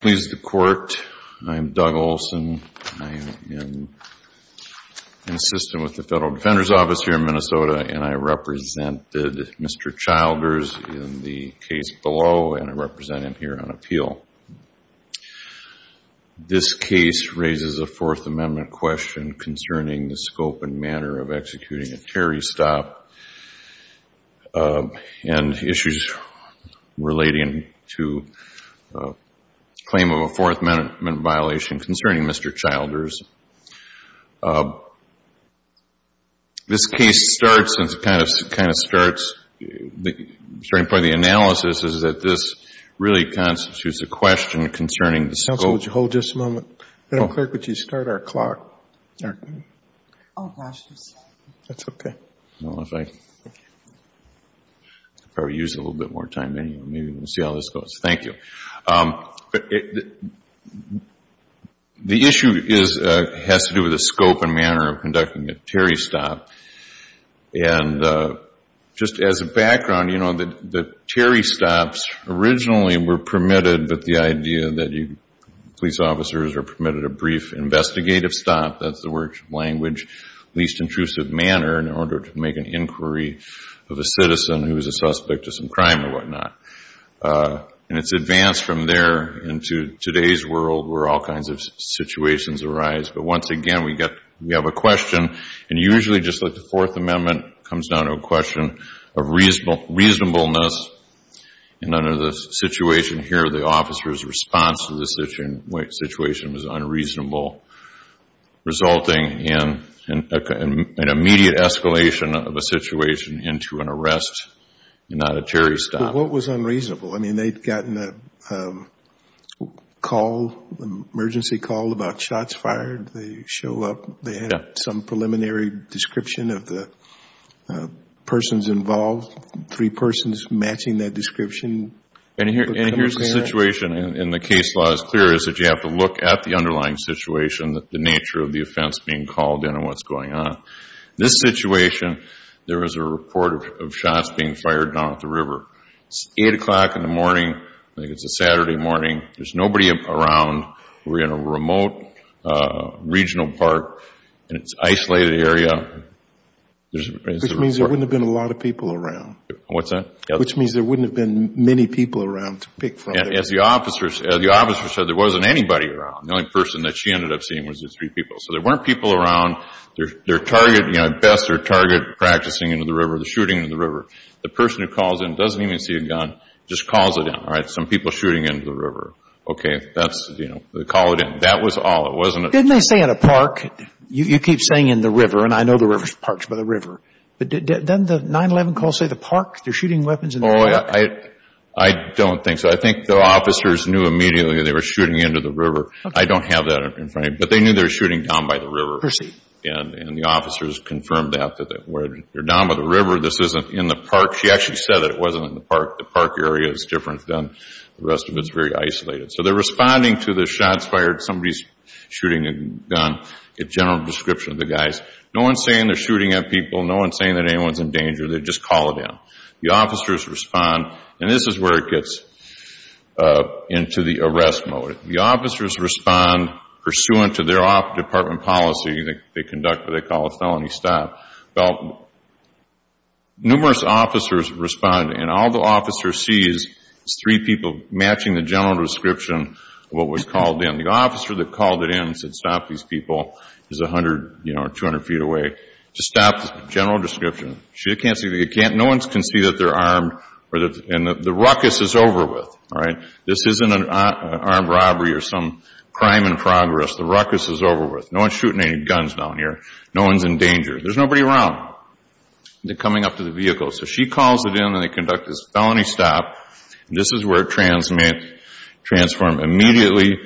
Please the court. I'm Doug Olson. I am an assistant with the Federal Defender's Office here in Minnesota and I represented Mr. Childers in the case below and I represent him here on appeal. This case raises a Fourth Amendment question concerning the scope and manner of the claim of a Fourth Amendment violation concerning Mr. Childers. This case starts and kind of starts, the starting point of the analysis is that this really constitutes a question concerning the scope. Counsel, would you hold just a moment? Federal clerk, would you start our clock? Oh, gosh, that's okay. Well, if I could probably use a little bit more time anyway. Maybe we can see how this goes. Thank you. The issue has to do with the scope and manner of conducting a Terry stop. And just as a background, you know, the Terry stops originally were permitted with the idea that police officers are permitted a brief investigative stop, that's the word language, least intrusive manner in order to make an inquiry of a citizen who is a suspect of some crime or whatnot. And it's advanced from there into today's world where all kinds of situations arise. But once again, we have a question and usually just like the Fourth Amendment comes down to a question of reasonableness and under the situation here, the officer's response to the situation was unreasonable, resulting in an immediate escalation of a arrest and not a Terry stop. But what was unreasonable? I mean, they'd gotten an emergency call about shots fired. They show up. They had some preliminary description of the persons involved, three persons matching that description. And here's the situation and the case law is clear is that you have to look at the underlying situation, the nature of the offense being called in and what's going on. This situation, there was a report of shots being fired down at the river. It's 8 o'clock in the morning. I think it's a Saturday morning. There's nobody around. We're in a remote regional park and it's an isolated area. There's a report. Which means there wouldn't have been a lot of people around. What's that? Which means there wouldn't have been many people around to pick from. As the officer said, there wasn't anybody around. The only person that she ended up seeing was the three people. So there weren't people around. Their target, you know, at best, their target practicing into the river, the shooting into the river. The person who calls in doesn't even see a gun, just calls it in. All right, some people shooting into the river. Okay, that's, you know, they call it in. That was all. It wasn't... Didn't they say in a park, you keep saying in the river, and I know the river's parched by the river. But didn't the 9-11 call say the park? They're shooting weapons in the park. I don't think so. I think the officers knew immediately they were shooting into the river. I don't have that in front of me. But they knew they were shooting down by the river. Perceived. And the officers confirmed that, that when you're down by the river, this isn't in the park. She actually said that it wasn't in the park. The park area is different than the rest of it. It's very isolated. So they're responding to the shots fired, somebody's shooting a gun, a general description of the guys. No one's saying they're shooting at people. No one's saying that anyone's in danger. They just call it in. The officers respond, and this is where it gets into the arrest mode. The officers respond pursuant to their department policy. They conduct what they call a felony stop. Numerous officers respond, and all the officers see is three people matching the general description of what was called in. The officer that called it in and said stop these people is 100, you know, 200 feet away. To stop the general description, no one can see that they're armed, and the ruckus is over with, all right? This isn't an armed robbery or some crime in progress. The ruckus is over with. No one's shooting any guns down here. No one's in danger. There's nobody around. They're coming up to the vehicle. So she calls it in, and they conduct this felony stop. This is where it transforms immediately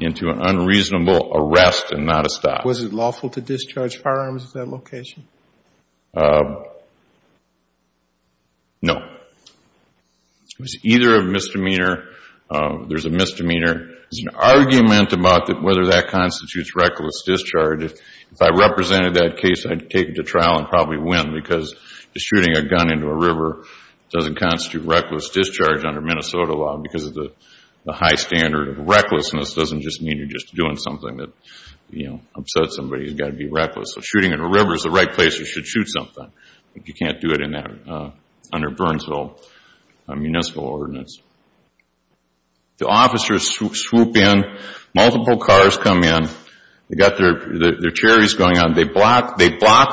into an unreasonable arrest and not a stop. Was it lawful to discharge firearms at that location? No. It was either a misdemeanor, there's a misdemeanor, there's an argument about whether that constitutes reckless discharge. If I represented that case, I'd take it to trial and probably win because just shooting a gun into a river doesn't constitute reckless discharge under Minnesota law because of the high standard of recklessness doesn't just mean you're just doing something that, you know, upsets somebody. You've got to be reckless. So shooting in a river is the right place you should shoot something, but you can't do it under Burnsville municipal ordinance. The officers swoop in. Multiple cars come in. They've got their cherries going on. They block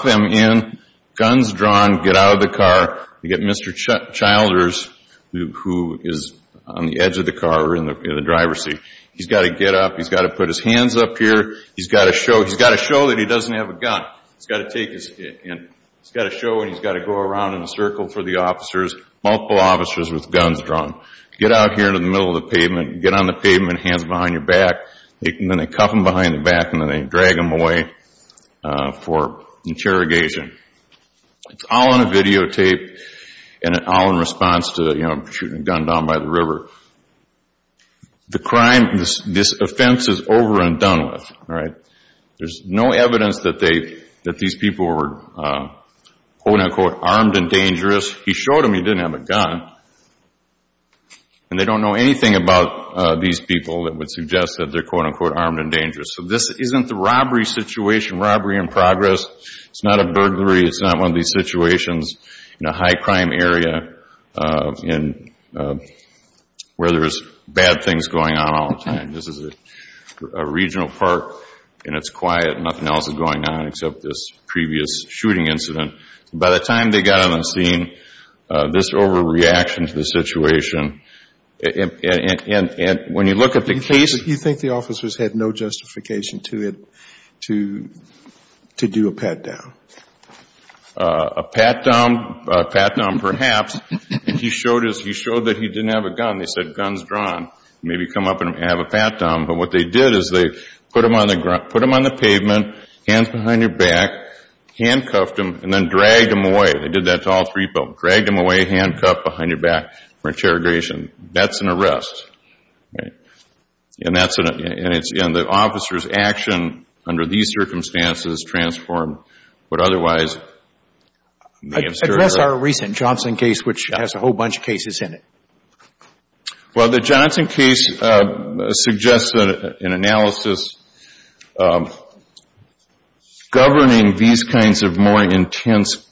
them in. Guns drawn. Get out of the car. They get Mr. Childers, who is on the edge of the car or in the driver's seat. He's got to get up. He's got to put his hands up here. He's got to show that he doesn't have a gun. He's got to take his hand. He's got to show it. He's got to go around in a circle for the officers, multiple officers with guns drawn. Get out here into the middle of the pavement. Get on the pavement, hands behind your back, and then they cuff him behind the back and then they drag him away for interrogation. It's all on a videotape and all in response to, you know, shooting a gun down by the river. The crime, this offense is over and done with, all right? There's no evidence that these people were, quote-unquote, armed and dangerous. He showed them he didn't have a gun, and they don't know anything about these people that would suggest that they're, quote-unquote, armed and dangerous. So this isn't the robbery situation, robbery in progress. It's not a burglary. It's not one of these situations in a high crime area where there's bad things going on all the time. This is a regional park, and it's quiet, and nothing else is going on except this previous shooting incident. By the time they got on the scene, this overreaction to the situation, and when you look at the case... You think the officers had no justification to do a pat-down? A pat-down, perhaps, and he showed that he didn't have a gun. They said, guns drawn. Maybe come up and have a pat-down, but what they did is they put him on the pavement, hands behind your back, handcuffed him, and then dragged him away. They did that to all three folks. Dragged him away, handcuffed, behind your back for interrogation. That's an arrest, right? And that's an... And the officer's action under these circumstances transformed what otherwise may have occurred. Address our recent Johnson case, which has a whole bunch of cases in it. Well, the Johnson case suggests an analysis governing these kinds of more intense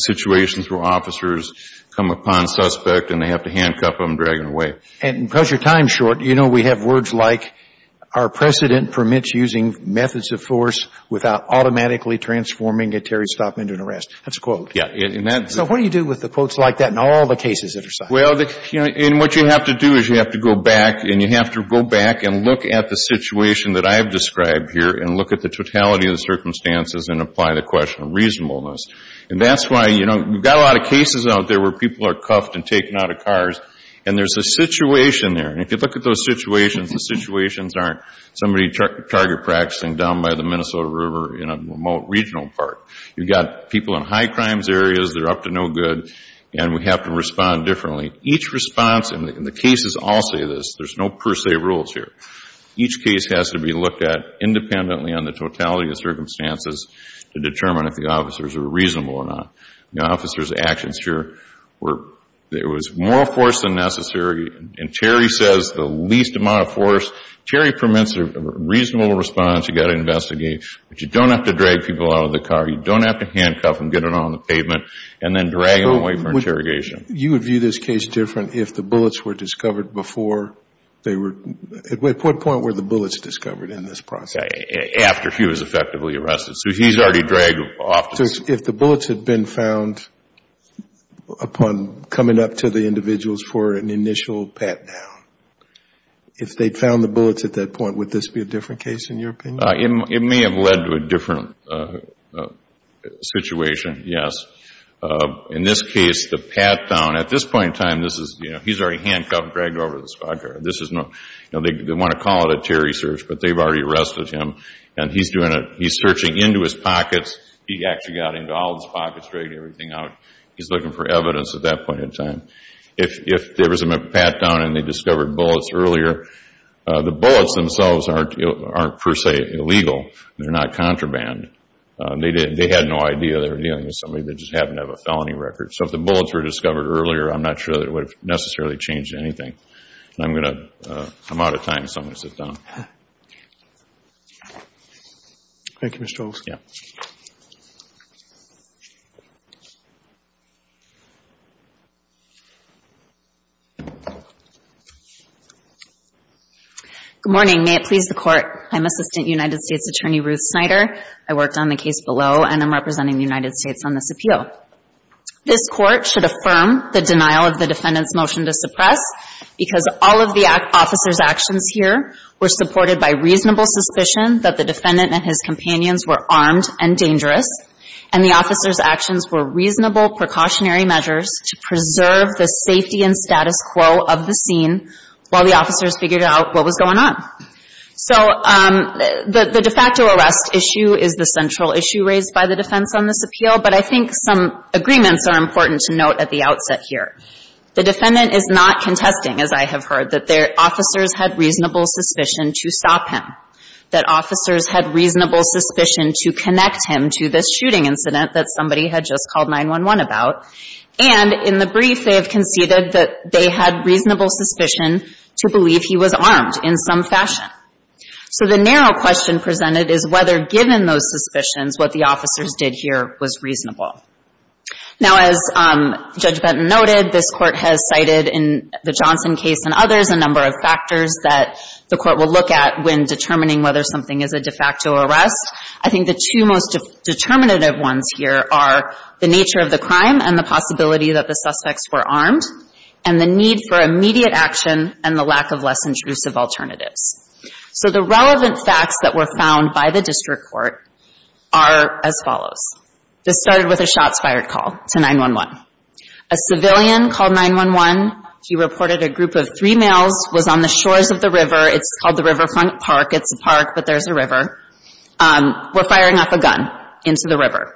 situations where officers come upon a suspect, and they have to handcuff them, drag them away. And because your time's short, you know we have words like, our precedent permits using methods of force without automatically transforming a Terry Stockman to an arrest. That's a quote. Yeah. And that... So what do you do with the quotes like that in all the cases that are cited? Well, you know, and what you have to do is you have to go back, and you have to go back and look at the situation that I've described here, and look at the totality of the circumstances and apply the question of reasonableness. And that's why, you know, we've got a lot of cases out there where people are cuffed and taken out of cars, and there's a situation there. And if you look at those situations, the situations aren't somebody target practicing down by the Minnesota River in a remote regional park. You've got people in high crimes areas that are up to no good, and we have to respond differently. Each response, and the cases all say this, there's no per se rules here. Each case has to be looked at independently on the totality of the circumstances to determine if the officers are reasonable or not. The officers' actions here were, there was more force than necessary, and Terry says the least amount of force. Terry permits a reasonable response, you've got to investigate, but you don't have to drag people out of the car, you don't have to handcuff them, get them on the pavement, and then drag them away for interrogation. You would view this case different if the bullets were discovered before they were, at what point were the bullets discovered in this process? After he was effectively arrested, so he's already dragged off the scene. If the bullets had been found upon coming up to the individuals for an initial pat down, if they'd found the bullets at that point, would this be a different case in your opinion? It may have led to a different situation, yes. In this case, the pat down, at this point in time, this is, you know, he's already handcuffed, dragged over to the squad car, this is no, you know, they want to call it a Terry search, but they've already arrested him, and he's doing a, he's searching into his pockets, he actually got into all his pockets, dragged everything out. He's looking for evidence at that point in time. If there was a pat down and they discovered bullets earlier, the bullets themselves aren't per se illegal, they're not contraband, they had no idea they were dealing with somebody that just happened to have a felony record. So if the bullets were discovered earlier, I'm not sure that it would have necessarily changed anything. And I'm going to, I'm out of time, so I'm going to sit down. Thank you, Mr. Olson. Yeah. Good morning. May it please the Court, I'm Assistant United States Attorney Ruth Snyder, I worked on the defense on this appeal. This Court should affirm the denial of the defendant's motion to suppress, because all of the officer's actions here were supported by reasonable suspicion that the defendant and his companions were armed and dangerous, and the officer's actions were reasonable precautionary measures to preserve the safety and status quo of the scene while the officers figured out what was going on. So the de facto arrest issue is the central issue raised by the defense on this appeal, but I think some agreements are important to note at the outset here. The defendant is not contesting, as I have heard, that their officers had reasonable suspicion to stop him, that officers had reasonable suspicion to connect him to this shooting incident that somebody had just called 911 about, and in the brief they have conceded that they had reasonable suspicion to believe he was armed in some fashion. So the narrow question presented is whether, given those suspicions, what the officers did here was reasonable. Now as Judge Benton noted, this Court has cited in the Johnson case and others a number of factors that the Court will look at when determining whether something is a de facto arrest. I think the two most determinative ones here are the nature of the crime and the possibility that the suspects were armed, and the need for immediate action and the lack of less intrusive alternatives. So the relevant facts that were found by the District Court are as follows. This started with a shots fired call to 911. A civilian called 911. He reported a group of three males was on the shores of the river. It's called the Riverfront Park. It's a park, but there's a river. We're firing off a gun into the river.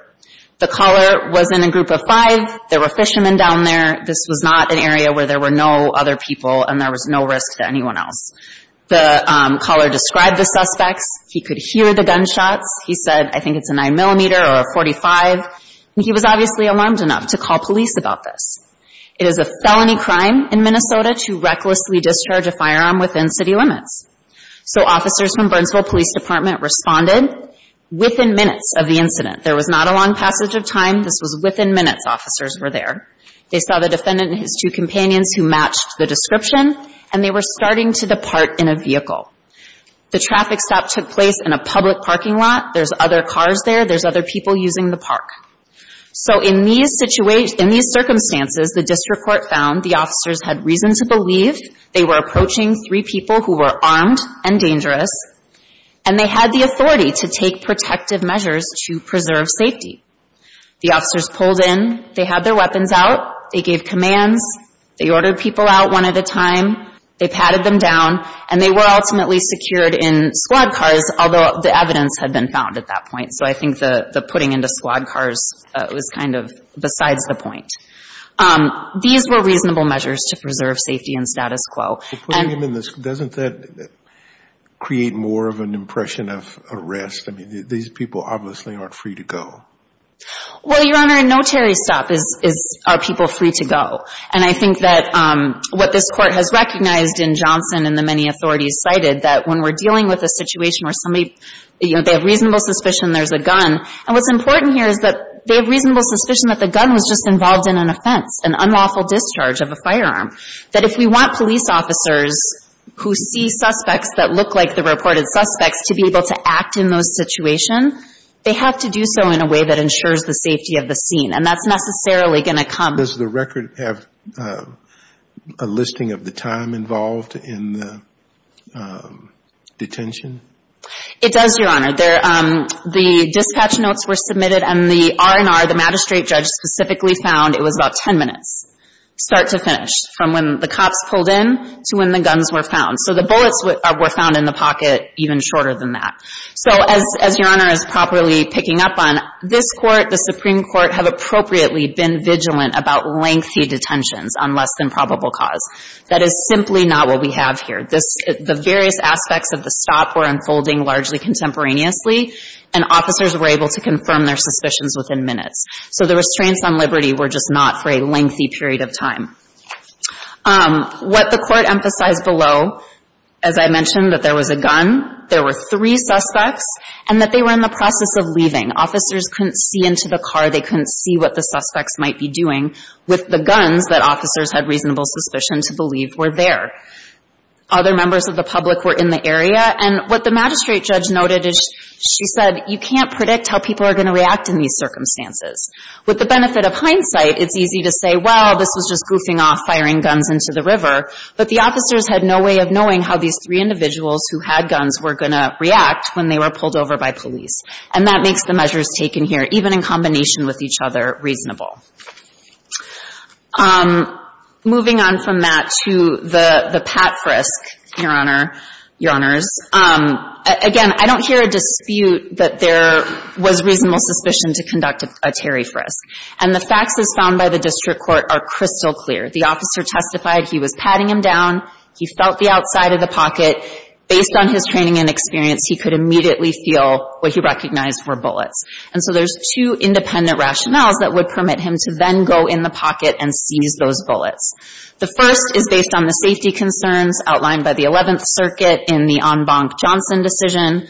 The caller was in a group of five. There were fishermen down there. This was not an area where there were no other people and there was no risk to anyone else. The caller described the suspects. He could hear the gunshots. He said, I think it's a 9mm or a .45. He was obviously alarmed enough to call police about this. It is a felony crime in Minnesota to recklessly discharge a firearm within city limits. So officers from Burnsville Police Department responded within minutes of the incident. There was not a long passage of time. This was within minutes officers were there. They saw the defendant and his two companions who matched the description, and they were starting to depart in a vehicle. The traffic stop took place in a public parking lot. There's other cars there. There's other people using the park. So in these circumstances, the district court found the officers had reason to believe they were approaching three people who were armed and dangerous, and they had the authority to take protective measures to preserve safety. The officers pulled in. They had their weapons out. They gave commands. They ordered people out one at a time. They patted them down, and they were ultimately secured in squad cars, although the evidence had been found at that point. So I think the putting into squad cars was kind of besides the point. These were reasonable measures to preserve safety and status quo. And — But putting them in the — doesn't that create more of an impression of arrest? I mean, these people obviously aren't free to go. Well, Your Honor, a notary stop is — are people free to go. And I think that what this court has recognized in Johnson and the many authorities cited, that when we're dealing with a situation where somebody — you know, they have reasonable suspicion there's a gun. And what's important here is that they have reasonable suspicion that the gun was just involved in an offense, an unlawful discharge of a firearm. That if we want police officers who see suspects that look like the reported suspects to be able to act in those situation, they have to do so in a way that ensures the safety of the scene. And that's necessarily going to come — Does the record have a listing of the time involved in the detention? It does, Your Honor. There — the dispatch notes were submitted and the R&R, the magistrate judge, specifically found it was about 10 minutes, start to finish, from when the cops pulled in to when the guns were found. So the bullets were found in the pocket even shorter than that. So as Your Honor is properly picking up on, this court, the Supreme Court, have appropriately been vigilant about lengthy detentions on less than probable cause. That is simply not what we have here. This — the various aspects of the stop were unfolding largely contemporaneously, and officers were able to confirm their suspicions within minutes. So the restraints on liberty were just not for a lengthy period of time. What the court emphasized below, as I mentioned, that there was a gun, there were three suspects, and that they were in the process of leaving. Officers couldn't see into the car, they couldn't see what the suspects might be doing with the guns that officers had reasonable suspicion to believe were there. Other members of the public were in the area, and what the magistrate judge noted is, she said, you can't predict how people are going to react in these circumstances. With the benefit of hindsight, it's easy to say, well, this was just goofing off, firing guns into the river, but the officers had no way of knowing how these three individuals who had guns were going to react when they were pulled over by police. And that makes the measures taken here, even in combination with each other, reasonable. Moving on from that to the — the pat frisk, Your Honor, Your Honors. Again, I don't hear a dispute that there was reasonable suspicion to conduct a Terry frisk. And the facts as found by the district court are crystal clear. The officer testified he was patting him down, he felt the outside of the pocket. Based on his training and experience, he could immediately feel what he recognized were bullets. And so there's two independent rationales that would permit him to then go in the pocket and seize those bullets. The first is based on the safety concerns outlined by the 11th Circuit in the en banc Johnson decision,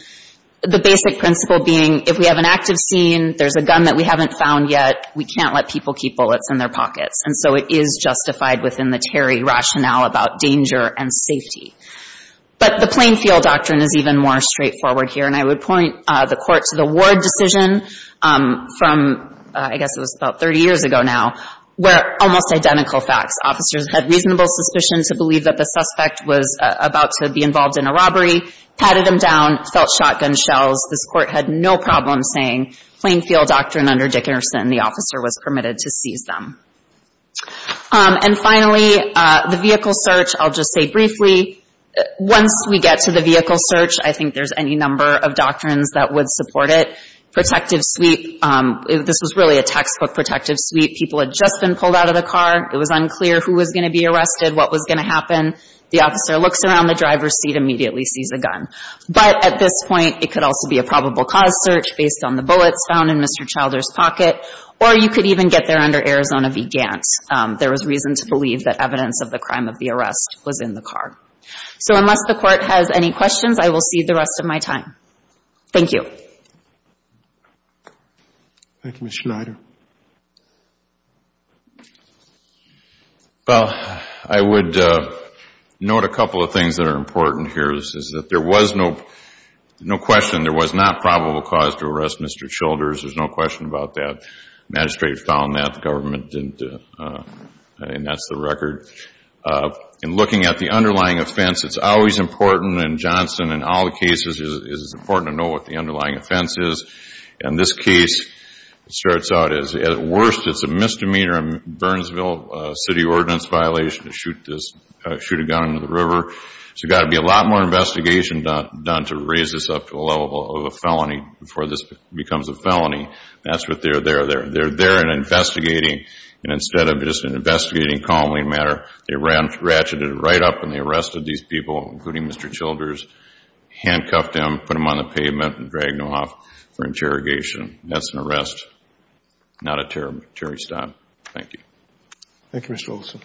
the basic principle being, if we have an active scene, there's a gun that we haven't found yet, we can't let people keep bullets in their pockets. And so it is justified within the Terry rationale about danger and safety. But the Plainfield Doctrine is even more straightforward here. And I would point the Court to the Ward decision from, I guess it was about 30 years ago now, where almost identical facts. Officers had reasonable suspicion to believe that the suspect was about to be involved in a robbery, patted him down, felt shotgun shells. This Court had no problem saying, Plainfield Doctrine under Dickerson. The officer was permitted to seize them. And finally, the vehicle search, I'll just say briefly, once we get to the vehicle search, I think there's any number of doctrines that would support it. Protective suite, this was really a textbook protective suite. People had just been pulled out of the car, it was unclear who was going to be arrested, what was going to happen. The officer looks around the driver's seat, immediately sees a gun. But at this point, it could also be a probable cause search based on the bullets found in Arizona began. There was reason to believe that evidence of the crime of the arrest was in the car. So unless the Court has any questions, I will cede the rest of my time. Thank you. Thank you, Ms. Schneider. Well, I would note a couple of things that are important here, is that there was no question there was not probable cause to arrest Mr. Childers, there's no question about that. The Magistrate found that, the government didn't, and that's the record. In looking at the underlying offense, it's always important, and Johnson, in all the cases, it's important to know what the underlying offense is. In this case, it starts out as, at worst, it's a misdemeanor, a Burnsville City Ordinance violation to shoot a gun into the river. So there's got to be a lot more investigation done to raise this up to the level of a felony before this becomes a felony. That's what they're there. They're there and investigating, and instead of just investigating calmly, they ratcheted it right up and they arrested these people, including Mr. Childers, handcuffed him, put him on the pavement, and dragged him off for interrogation. That's an arrest, not a jury stop. Thank you. Thank you, Mr. Olson.